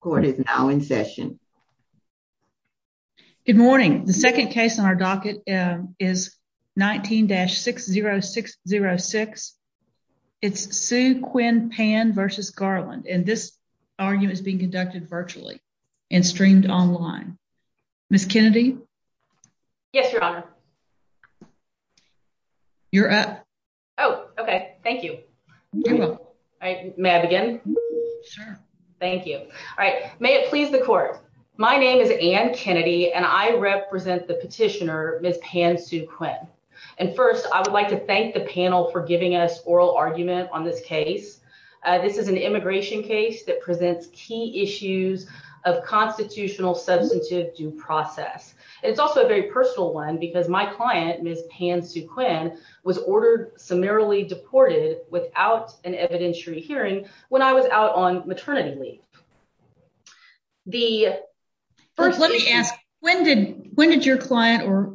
court is now in session. Good morning. The second case on our docket is 19-60606. It's Sue Quinn Pan v. Garland. And this argument is being conducted virtually and streamed online. Miss Kennedy? Yes, Your Honor. You're up. Oh, okay. Thank you. All right. May I begin? Sure. Thank you. All right. May it please the court. My name is Anne Kennedy, and I represent the petitioner, Miss Pan Sue Quinn. And first, I would like to thank the panel for giving us oral argument on this case. This is an immigration case that presents key issues of constitutional substantive due process. It's also a very personal one because my client, Miss Pan Sue Quinn, was ordered summarily deported without an evidentiary hearing when I was out on maternity leave. The first let me ask, when did when did your client or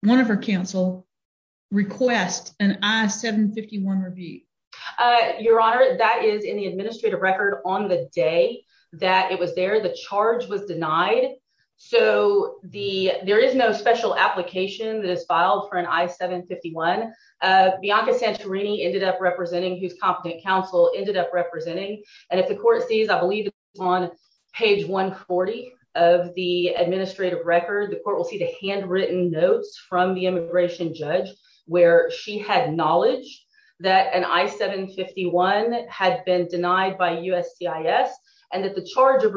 one of her counsel request an I-751 review? Your Honor, that is in the administrative record on the day that it was there, the charge was denied. So the there is no special application that is filed for an I-751. Bianca Santorini ended up representing, whose competent counsel ended up representing. And if the court sees, I believe, on page 140 of the administrative record, the court will see the handwritten notes from the immigration judge, where she had knowledge that an I-751 had been denied by USCIS, and that the charge of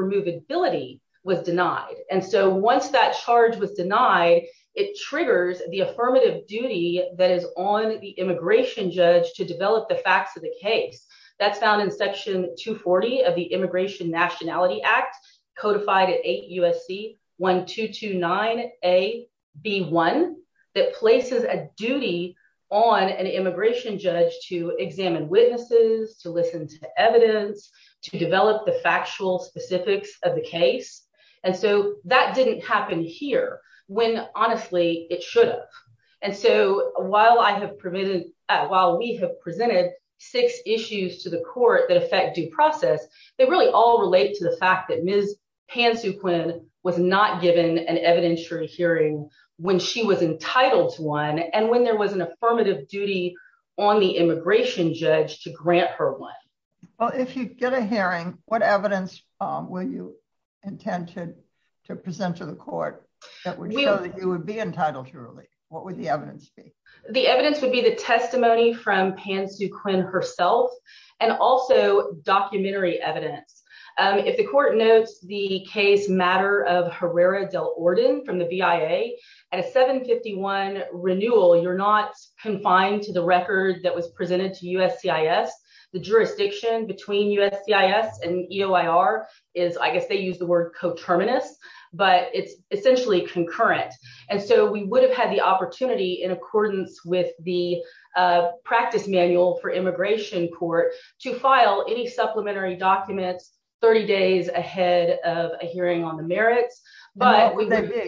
was denied. And so once that charge was denied, it triggers the affirmative duty that is on the immigration judge to develop the facts of the case. That's found in Section 240 of the Immigration Nationality Act, codified at 8 USC 1229AB1, that places a duty on an immigration judge to examine witnesses to listen to evidence to develop the factual specifics of the case. And so that didn't happen here, when honestly, it should have. And so while I have prevented, while we have presented six issues to the court that affect due process, they really all relate to the fact that Ms. Pansuquin was not given an evidentiary hearing when she was entitled to one and when there was an affirmative duty on the immigration judge to Well, if you get a hearing, what evidence will you intend to present to the court that would show that you would be entitled to release? What would the evidence be? The evidence would be the testimony from Pansuquin herself, and also documentary evidence. If the court notes the case matter of Herrera del Orden from the BIA, at a 751 renewal, you're not confined to the record that was presented to jurisdiction between USCIS and EOIR is I guess they use the word coterminous, but it's essentially concurrent. And so we would have had the opportunity in accordance with the practice manual for immigration court to file any supplementary documents 30 days ahead of a hearing on the merits. But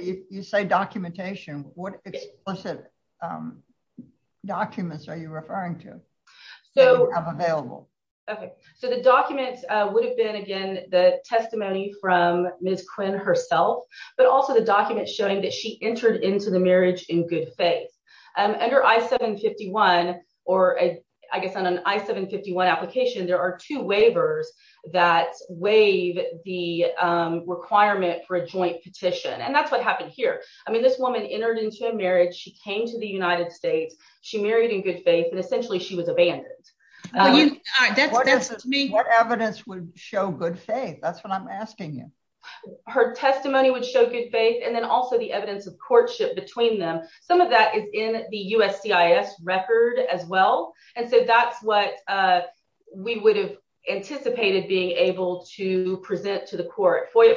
you say documentation, what explicit documents are you Okay, so the documents would have been again, the testimony from Ms. Quinn herself, but also the documents showing that she entered into the marriage in good faith. Under I-751, or I guess on an I-751 application, there are two waivers that waive the requirement for a joint petition. And that's what happened here. I mean, this woman entered into a marriage, she came to the United States, she married in good faith, and essentially she was abandoned. You know, that's me. What evidence would show good faith? That's what I'm asking you. Her testimony would show good faith, and then also the evidence of courtship between them. Some of that is in the USCIS record as well. And so that's what we would have anticipated being able to present to the court. FOIA,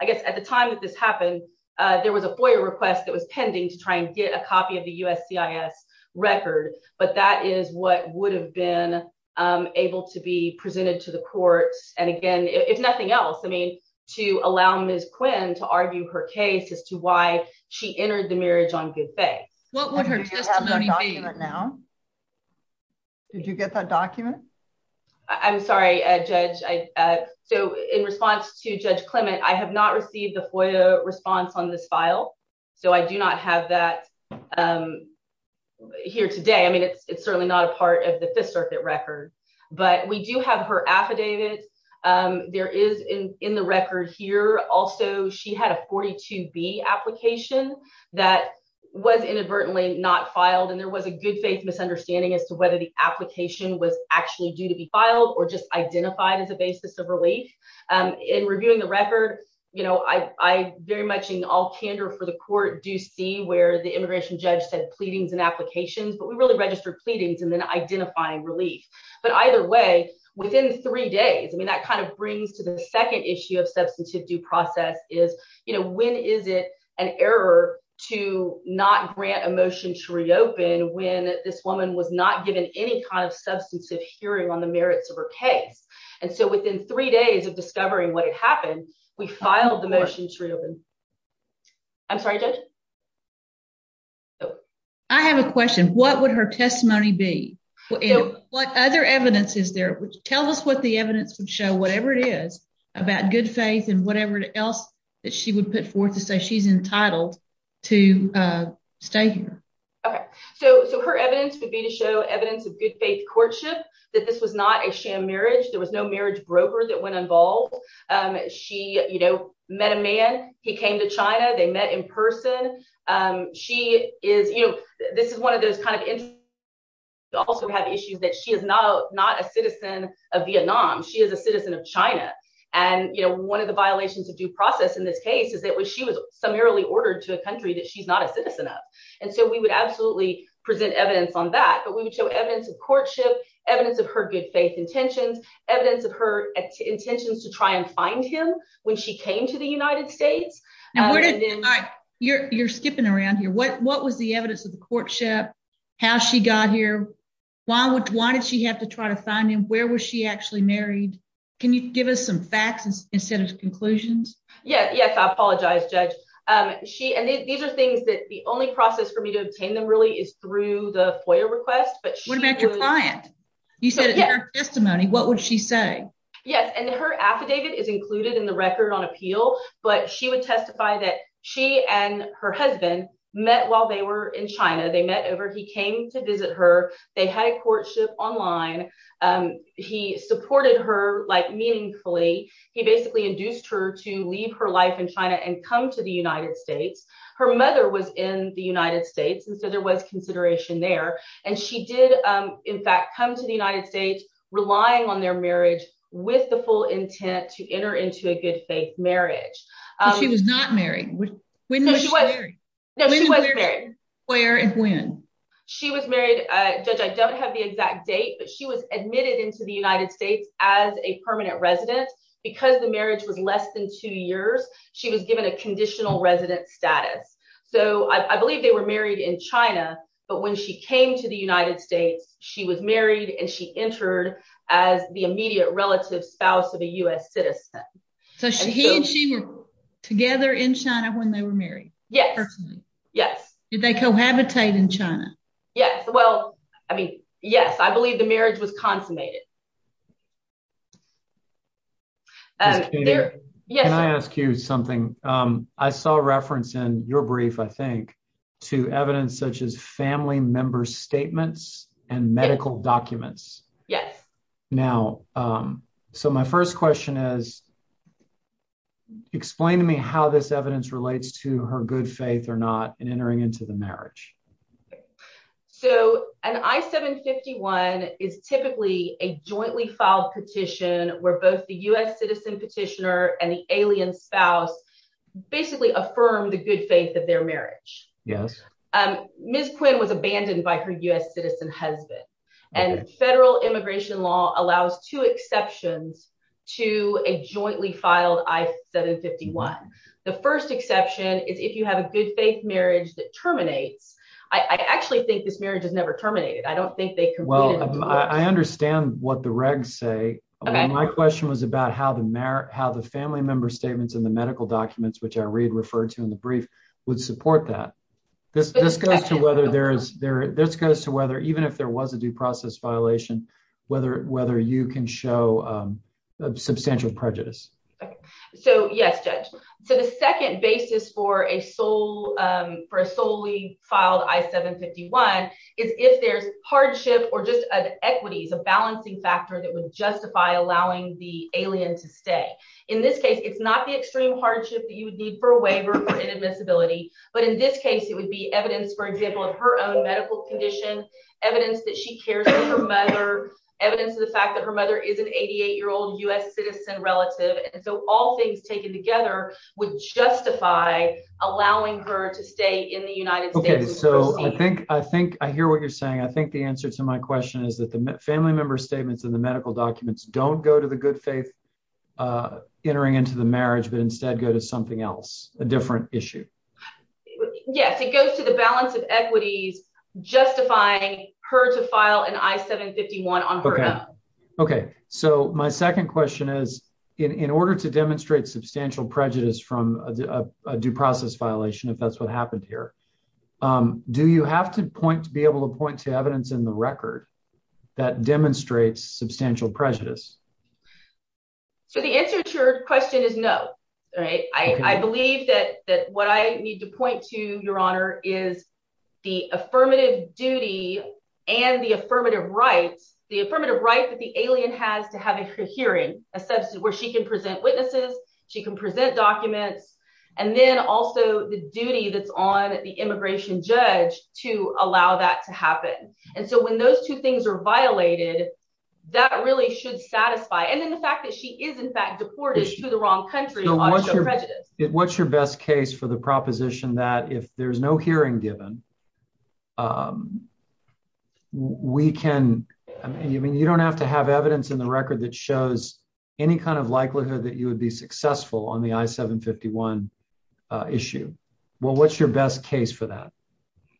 I guess at the time that this happened, there was a FOIA request that was pending to try and get a copy of the USCIS record. But that is what would have been able to be presented to the courts. And again, if nothing else, I mean, to allow Ms. Quinn to argue her case as to why she entered the marriage on good faith. What would her testimony be? Did you get that document? I'm sorry, Judge. So in response to Judge Clement, I have not received the FOIA response on this file. So I do not have that here today. I mean, it's certainly not a part of the Fifth Circuit record. But we do have her affidavit. There is in the record here. Also, she had a 42B application that was inadvertently not filed. And there was a good faith misunderstanding as to whether the application was actually due to be filed or just identified as a basis of relief. In reviewing the record, you know, I very much in all candor for the court do see where the immigration judge said pleadings and applications, but we really registered pleadings and then identifying relief. But either way, within three days, I mean, that kind of brings to the second issue of substantive due process is, you know, when is it an error to not grant a motion to reopen when this woman was not given any kind of substantive hearing on the merits of her case? And so within three days of discovering what had happened, we filed the motion to reopen. I'm sorry, Judge? I have a question. What would her testimony be? What other evidence is there? Tell us what the evidence would show, whatever it is, about good faith and whatever else that she would put forth to say she's entitled to stay here. Okay, so her evidence would be to show evidence of good faith courtship, that this was not a sham marriage. There was no man, he came to China, they met in person. She is, you know, this is one of those kind of issues that she is not a citizen of Vietnam, she is a citizen of China. And, you know, one of the violations of due process in this case is that when she was summarily ordered to a country that she's not a citizen of. And so we would absolutely present evidence on that. But we would show evidence of courtship, evidence of her good faith intentions, evidence of her intentions to try and find him when she came to the United States. You're skipping around here. What was the evidence of the courtship? How she got here? Why did she have to try to find him? Where was she actually married? Can you give us some facts instead of conclusions? Yes, I apologize, Judge. These are things that the only process for me to obtain them really is through the FOIA request. What about your client? You said in her testimony, what would she say? Yes, and her affidavit is included in the record on appeal. But she would testify that she and her husband met while they were in China, they met over he came to visit her, they had a courtship online. He supported her like meaningfully, he basically induced her to leave her life in China and come to the United States. Her mother was in the United States. And so there was consideration there. And she did, in fact, come to the United States, relying on their marriage with the full intent to enter into a good faith marriage. She was not married. Where and when? She was married, Judge, I don't have the exact date, but she was admitted into the United States as a permanent resident. Because the marriage was less than two years, she was given a conditional resident status. So I believe they were married in China. But when she came to the United States, she was married and she entered as the immediate relative spouse of a US citizen. So she and she were together in China when they were married? Yes. Yes. Did they cohabitate in China? Yes. Well, I mean, yes, I believe the marriage was consummated. Yes, can I ask you something? I saw a reference in your brief, I think, to evidence such as family members statements and medical documents. Yes. Now, so my first question is, explain to me how this evidence relates to her good faith or not in entering into the marriage. So an I-751 is typically a jointly filed petition where both the US citizen petitioner and the alien spouse basically affirm the good faith of their marriage. Yes. Ms. Quinn was abandoned by her US citizen husband. And federal immigration law allows two exceptions to a jointly filed I-751. The first exception is if you have a good faith marriage that terminates. I actually think this marriage is never terminated. I don't think they could. Well, I understand what the regs say. And my question was about how the family member statements in the medical documents, which I read referred to in the brief, would support that. This goes to whether even if there was a due process violation, whether you can show substantial prejudice. So yes, Judge. So the second basis for a solely filed I-751 is if there's hardship or just an equity, a balancing factor that would justify allowing the alien to stay. In this case, it's not the extreme hardship that you would need for a waiver or inadmissibility. But in this case, it would be evidence, for example, of her own medical condition, evidence that she cares for her mother, evidence of the fact that her mother is an 88-year-old US citizen relative. And so all things taken together would justify allowing her to stay in the United States. Okay, so I think I hear what you're saying. I think the answer to my question is that the family member statements in the medical documents don't go to the good faith entering into the marriage, but instead go to something else, a different issue. Yes, it goes to the balance of equities, justifying her to file an I-751 on her own. Okay. So my second question is, in order to demonstrate substantial prejudice from a due process violation, if that's what happened here, do you have to point to be able to point to evidence in the record that demonstrates substantial prejudice? So the answer to your question is no. I believe that what I need to point to, Your Honor, is the affirmative duty and the affirmative rights, the affirmative right that the alien has to have a hearing, where she can present witnesses, she can present documents, and then also the duty that's on the immigration judge to allow that to happen. And so when those two things are violated, that really should satisfy. And then the fact that she is, in fact, deported to the wrong country shows prejudice. What's your best case for the proposition that if there's no hearing given, we can, I mean, you don't have to have evidence in the record that shows any kind of likelihood that you would be successful on the I-751 issue. Well, what's your best case for that?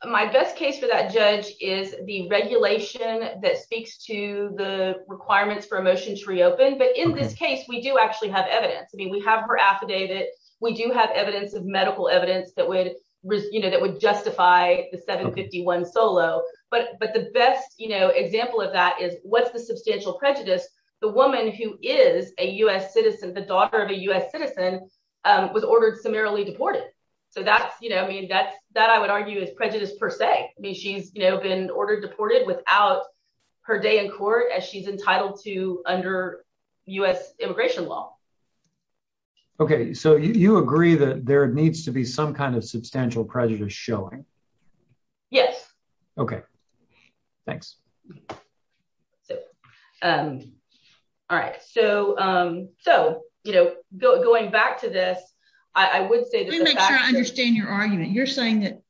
My best case for that, Judge, is the regulation that speaks to the requirements for a motion to reopen. But in this case, we do actually have evidence. I mean, we have her affidavit, we do have evidence of medical evidence that would, you know, that would justify the 751 solo. But the best, you know, example of that is what's the substantial prejudice? The woman who is a US citizen, the daughter of a US citizen, was ordered summarily deported. So that's, you know, I mean, that's that I would argue is prejudice per se. I mean, she's, you know, been ordered deported without her day in court as she's entitled to under US immigration law. Okay, so you agree that there needs to be some kind of substantial prejudice showing? Yes. Okay. Thanks. So, all right. So, so, you know, going back to this, I would say understand your argument, you're saying that,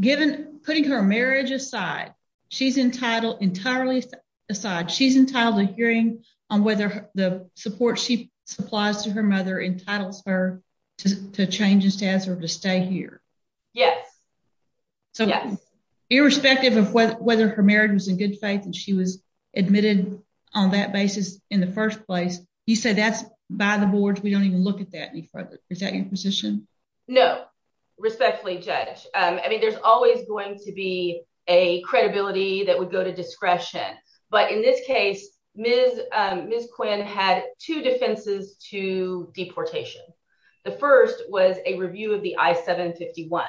given putting her marriage aside, she's entitled entirely aside, she's entitled to hearing on whether the support she supplies to her mother entitles her to change his test or to stay here? Yes. So, irrespective of whether her marriage was in good faith, and she was admitted on that basis in the first place, you say that's by the boards, we don't even look at that. Is that your position? No, respectfully, Judge, I mean, there's always going to be a credibility that would go to discretion. But in this case, Ms. Quinn had two defenses to deportation. The first was a review of the I-751.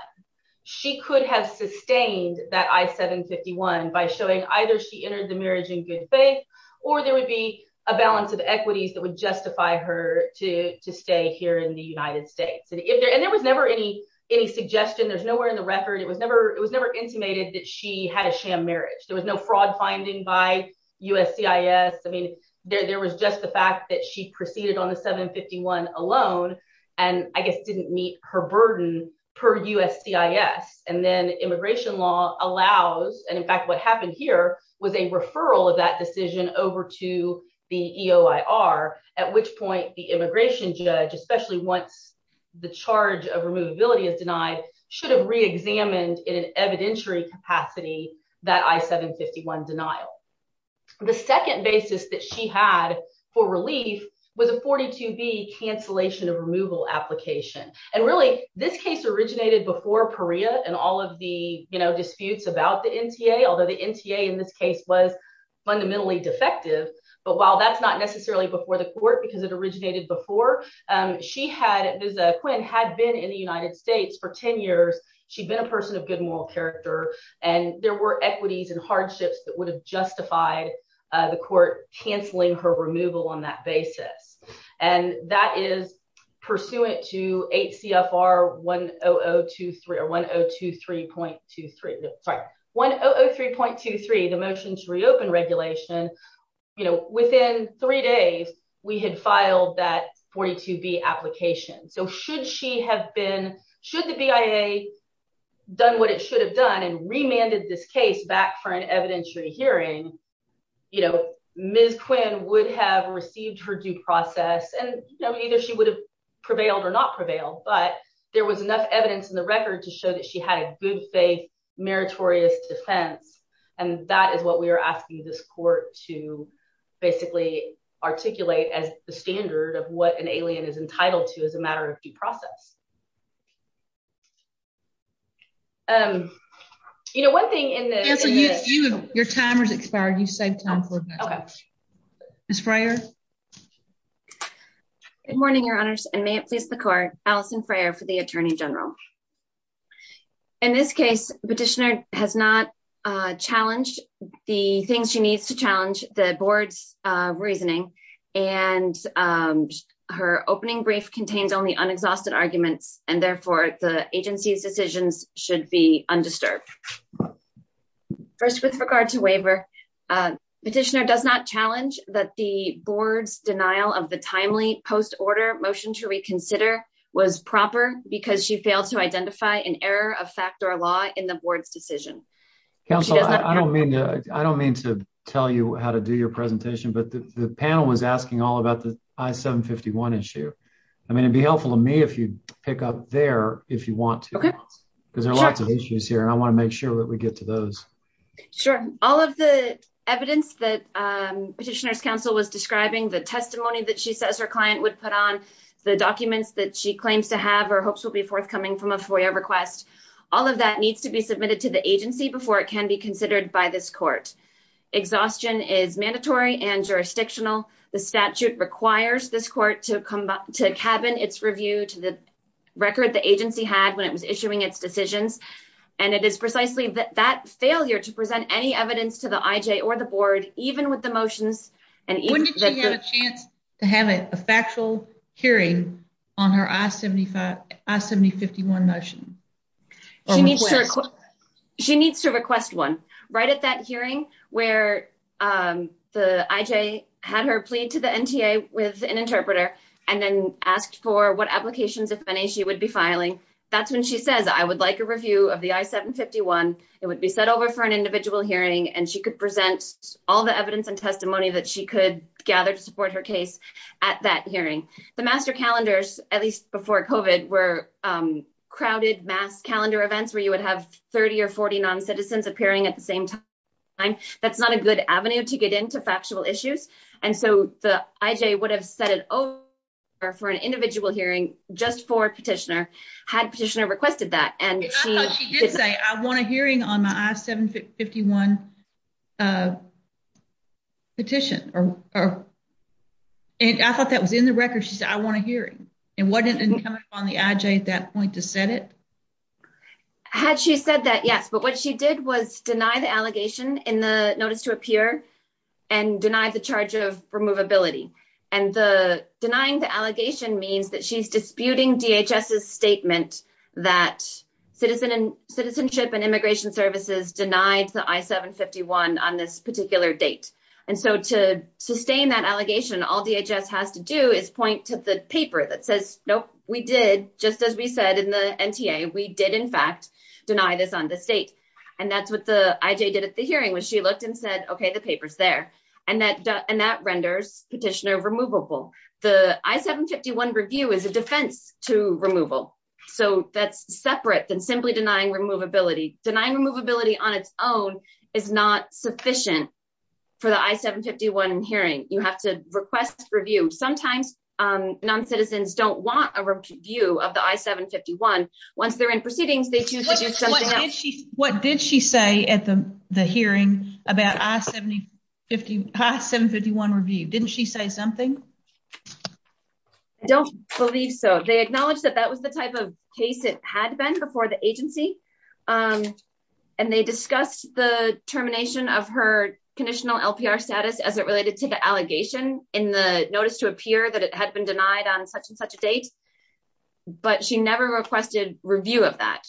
She could have sustained that I-751 by showing either she entered the marriage in good faith, or there would be a balance of equities that would justify her to stay here in the United States. And there was never any, any suggestion, there's nowhere in the record, it was never, it was never intimated that she had a sham marriage, there was no fraud finding by USCIS. I mean, there was just the fact that she proceeded on the I-751 alone, and I guess didn't meet her burden per USCIS. And then immigration law allows, and in fact, what happened here was a referral of that decision over to the EOIR, at which point the immigration judge, especially once the charge of removability is denied, should have reexamined in an evidentiary capacity, that I-751 denial. The second basis that she had for relief was a 42B cancellation of removal application. And really, this case originated before PARIA and all of the, you know, disputes about the NTA, although the NTA in this case was fundamentally defective. But while that's not necessarily before the court, because it originated before, she had, Ms. Quinn had been in the United States for 10 years, she'd been a person of good moral character, and there were equities and hardships that would have justified the court canceling her removal on that motion to reopen regulation, you know, within three days, we had filed that 42B application. So should she have been, should the BIA done what it should have done and remanded this case back for an evidentiary hearing, you know, Ms. Quinn would have received her due process, and either she would have prevailed or not prevailed, but there was enough evidence in the record to that she had a good faith, meritorious defense. And that is what we are asking this court to basically articulate as the standard of what an alien is entitled to as a matter of due process. And, you know, one thing in this, your timer's expired, you saved time for Ms. Freyer. Good morning, Your Honors, and may it please the court, Alison Freyer for the Attorney General. In this case, Petitioner has not challenged the things she needs to challenge the board's reasoning, and her opening brief contains only unexhausted arguments, and therefore the agency's decisions should be undisturbed. First, with regard to waiver, Petitioner does not challenge that the board's denial of the timely post-order motion to reconsider was proper because she failed to identify an error of fact or law in the board's decision. Counsel, I don't mean to tell you how to do your presentation, but the panel was asking all about the I-751 issue. I mean, it'd be helpful to me if you pick up there, if you want to, because there are lots of issues here, and I want to make sure that we get to those. Sure. All of the evidence that Petitioner's counsel was describing, the testimony that she says her client would put on, the documents that she claims to have or hopes will be forthcoming from a FOIA request, all of that needs to be submitted to the agency before it can be considered by this court. Exhaustion is mandatory and jurisdictional. The statute requires this court to come back to cabin its review to the record the agency had when it was issuing its decisions, and it is precisely that failure to present any evidence to the IJ or the board, even with the motions. When did she have a chance to have a factual hearing on her I-751 motion? She needs to request one. Right at that hearing where the IJ had her plead to the NTA with an interpreter and then asked for what applications, if any, she would be filing. That's when she says, I would like a review of the I-751. It would be set over for an individual hearing, and she could present all the evidence and testimony that she could gather to support her case at that hearing. The master calendars, at least before COVID, were crowded mass calendar events where you would have 30 or 40 non-citizens appearing at the same time. That's not a good avenue to get into factual issues. And so the IJ would have set it over for an individual hearing just for petitioner, had petitioner requested that. I thought she did say, I want a hearing on my I-751 petition. I thought that was in the record. She said, I want a hearing. And wasn't it coming up on the IJ at that point to set it? Had she said that, yes. But what she did was deny the allegation in the notice to appear and deny the charge of removability. And the denying the allegation means that she's disputing DHS's that citizenship and immigration services denied the I-751 on this particular date. And so to sustain that allegation, all DHS has to do is point to the paper that says, nope, we did, just as we said in the NTA, we did, in fact, deny this on the state. And that's what the IJ did at the hearing when she looked and said, okay, the paper's there. And that renders petitioner The I-751 review is a defense to removal. So that's separate than simply denying removability. Denying removability on its own is not sufficient for the I-751 hearing. You have to request review. Sometimes non-citizens don't want a review of the I-751. Once they're in proceedings, they choose to do something else. What did she say at the hearing about I-751 review? Didn't she say something? I don't believe so. They acknowledged that that was the type of case it had been before the agency. And they discussed the termination of her conditional LPR status as it related to the allegation in the notice to appear that it had been denied on such and such a date. But she never requested review of that.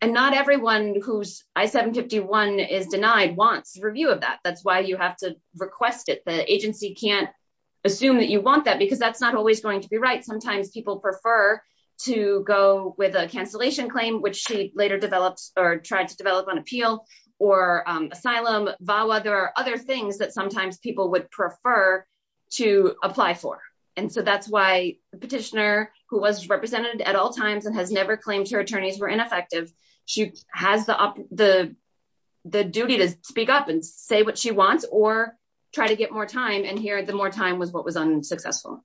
And not everyone who's I-751 is denied wants review of that. That's why you have to request it. The agency can't assume that you want that because that's not always going to be right. Sometimes people prefer to go with a cancellation claim, which she later developed or tried to develop on appeal, or asylum, VAWA. There are other things that sometimes people would prefer to apply for. And so that's why the petitioner who was represented at all times and has never claimed her attorneys were ineffective. She has the duty to speak up and say what she wants or try to get more time and hear the more time was what was unsuccessful.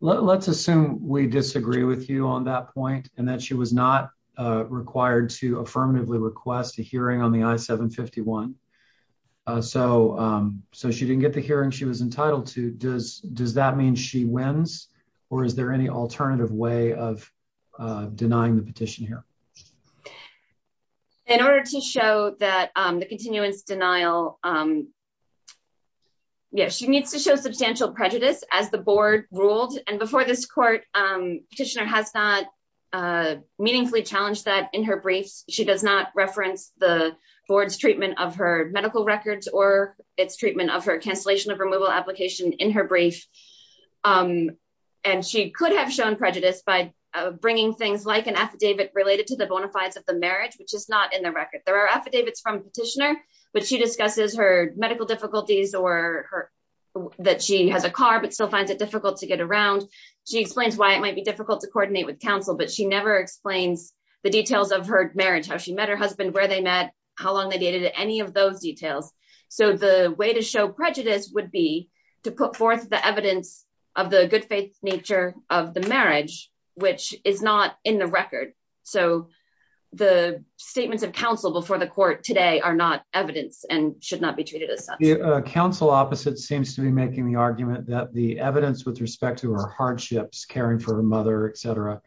Let's assume we disagree with you on that point, and that she was not required to affirmatively request a hearing on the I-751. So, so she didn't get the hearing she was entitled to does does that mean she wins? Or is there any alternative way of denying the petition here? In order to show that the continuance denial, yes, she needs to show substantial prejudice as the board ruled and before this court, petitioner has not meaningfully challenged that in her briefs, she does not reference the board's treatment of her medical records or its treatment of her cancellation of removal application in her brief. And she could have shown prejudice by bringing things like an affidavit related to the bona fides of the marriage, which is not in the record. There are affidavits from petitioner, but she discusses her medical difficulties or that she has a car but still finds it difficult to get around. She explains why it might be difficult to coordinate with counsel, but she never explains the details of her marriage, how she met her husband, where they met, how long they dated any of those details. So the way to show prejudice would be to put forth the evidence of the good nature of the marriage, which is not in the record. So the statements of counsel before the court today are not evidence and should not be treated as such. Counsel opposite seems to be making the argument that the evidence with respect to her hardships caring for her mother, etc,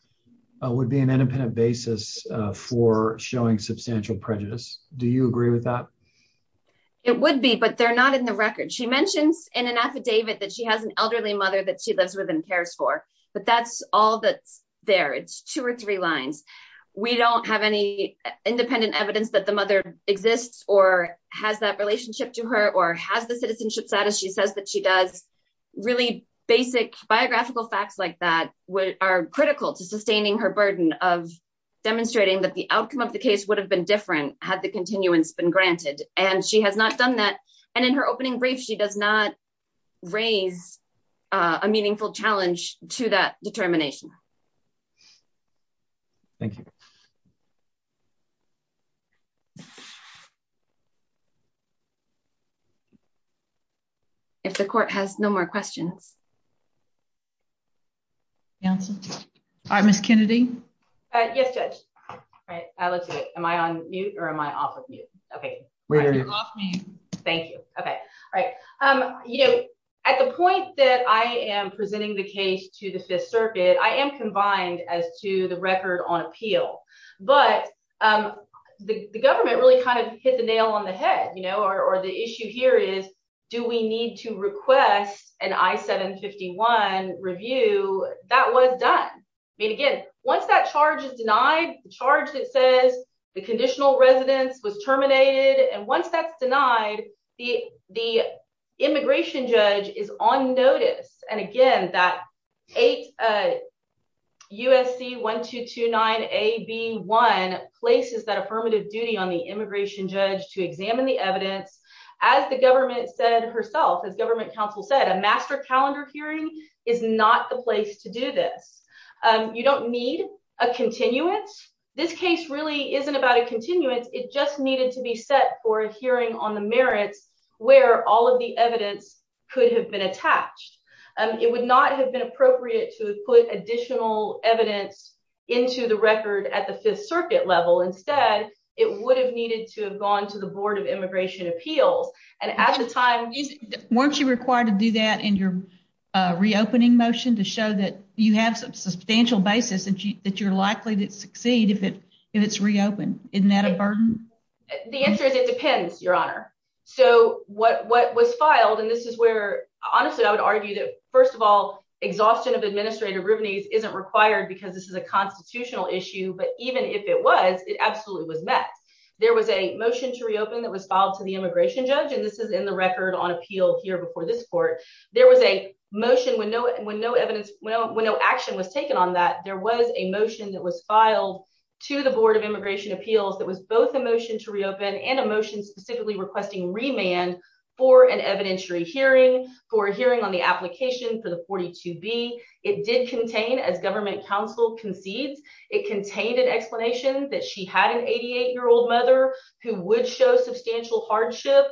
would be an independent basis for showing substantial prejudice. Do you agree with that? It would be but they're not in the record. She mentions in an affidavit that she has an elderly mother that she lives with and cares for. But that's all that's there. It's two or three lines. We don't have any independent evidence that the mother exists or has that relationship to her or has the citizenship status. She says that she does really basic biographical facts like that, which are critical to sustaining her burden of demonstrating that the outcome of the case would have been different had the continuance been granted, and she has not done that. And in her opening brief, she does not raise a meaningful challenge to that determination. Thank you. If the court has no more questions. Council. I'm Miss Kennedy. Yes, Judge. Am I on mute? Or am I off of mute? Okay. Thank you. Okay. Right. Um, you know, at the point that I am presenting the case to the Fifth Circuit, I am combined as to the record on appeal, but the government really kind of hit the nail on the head, you know, or the issue here is, do we need to request an I 751 review that was done? I mean, again, once that charge is denied the charge that says the conditional residence was the immigration judge is on notice. And again, that eight USC 1229 a B one places that affirmative duty on the immigration judge to examine the evidence, as the government said herself, as government counsel said, a master calendar hearing is not the place to do this. You don't need a continuance. This case really isn't about a continuance. It just needed to be set for a hearing on the merits, where all of the evidence could have been attached. It would not have been appropriate to put additional evidence into the record at the Fifth Circuit level. Instead, it would have needed to have gone to the Board of Immigration Appeals. And at the time, weren't you required to do that in your reopening motion to show that you have some substantial basis and that you're likely to Isn't that a burden? The answer is, it depends, Your Honor. So what what was filed, and this is where, honestly, I would argue that, first of all, exhaustion of administrative revenues isn't required, because this is a constitutional issue. But even if it was, it absolutely was met. There was a motion to reopen that was filed to the immigration judge. And this is in the record on appeal here before this court, there was a motion when no when no evidence when no action was taken on that there was a motion that was filed to the Board of Immigration Appeals that was both a motion to reopen and a motion specifically requesting remand for an evidentiary hearing for a hearing on the application for the 42 B. It did contain as government counsel concedes, it contained an explanation that she had an 88 year old mother who would show substantial hardship.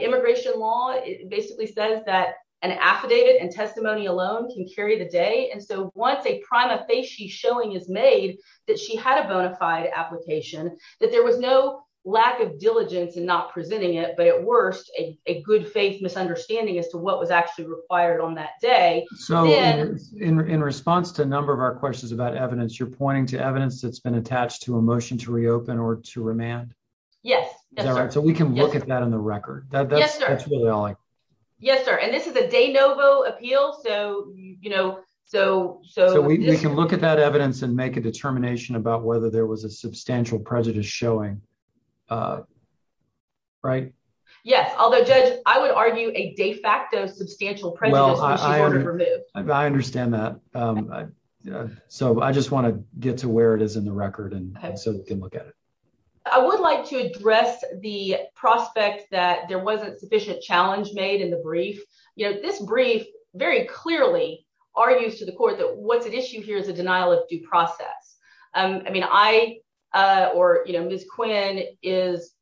Immigration law basically says that an affidavit and testimony alone can carry the day. And so once a prima facie showing is made, that she had a bona fide application, that there was no lack of diligence and not presenting it. But at worst, a good faith misunderstanding as to what was actually required on that day. So in response to a number of our questions about evidence, you're pointing to evidence that's been attached to a motion to reopen or to remand? All right. So we can look at that on the record. Yes, sir. And this is a de novo appeal. So you know, so so we can look at that evidence and make a determination about whether there was a substantial prejudice showing. Right? Yes. Although, Judge, I would argue a de facto substantial presence. I understand that. So I just want to get to where it is in the record. And so we can look at it. I would like to address the prospect that there wasn't sufficient challenge made in the brief. You know, this brief very clearly argues to the court that what's at issue here is a denial of due process. I mean, I, or, you know, Ms. Quinn is,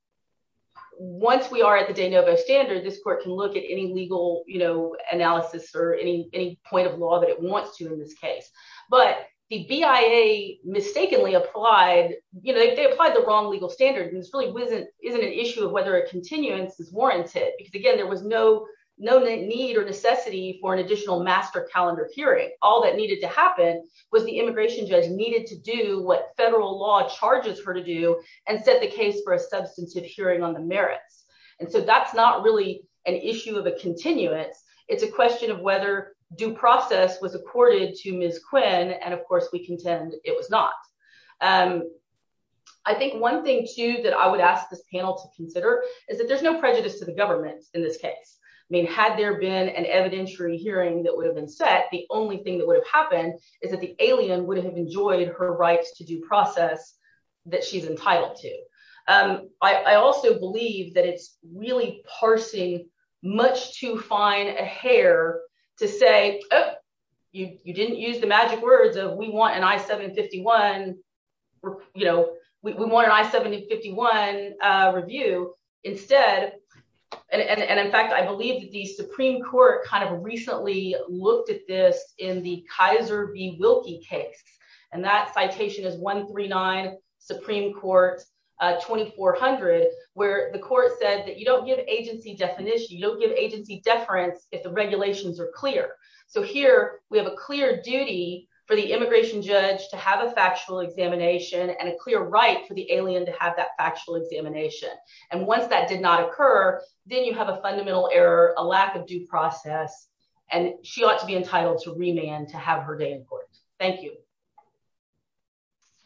once we are at the de novo standard, this court can look at any legal, you know, analysis or any any point of law that it wants to in this case, but the BIA mistakenly applied, you know, they applied the wrong legal standards. And this really wasn't isn't an issue of whether a continuance is warranted, because again, there was no, no need or necessity for an additional master calendar hearing, all that needed to happen was the immigration judge needed to do what federal law charges her to do, and set the case for a substantive hearing on the merits. And so that's not really an issue of a continuance. It's a question of whether due process was accorded to Ms. Quinn. And of course, we contend it was not. And I think one thing too, that I would ask this panel to consider is that there's no prejudice to the government in this case. I mean, had there been an evidentiary hearing that would have been set the only thing that would have happened is that the alien would have enjoyed her rights to due process that she's entitled to. I also believe that it's really parsing much too fine a hair to say, oh, you didn't use the magic words of we want an I 751. You know, we want an I 751 review instead. And in fact, I believe the Supreme Court kind of recently looked at this in the Kaiser v. Wilkie case. And that citation is 139, Supreme Court 2400, where the court said that you don't give agency definition, you don't give agency deference if the regulations are clear. So here, we have a clear duty for the immigration judge to have a factual examination and a clear right for the alien to have that factual examination. And once that did not occur, then you have a fundamental error, a lack of due process, and she ought to be entitled to remand to have her day in court. Thank you.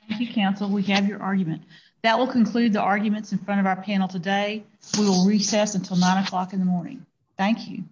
Thank you, counsel, we have your argument. That will conclude the arguments in front of our panel today. We will recess until nine o'clock in the morning. Thank you.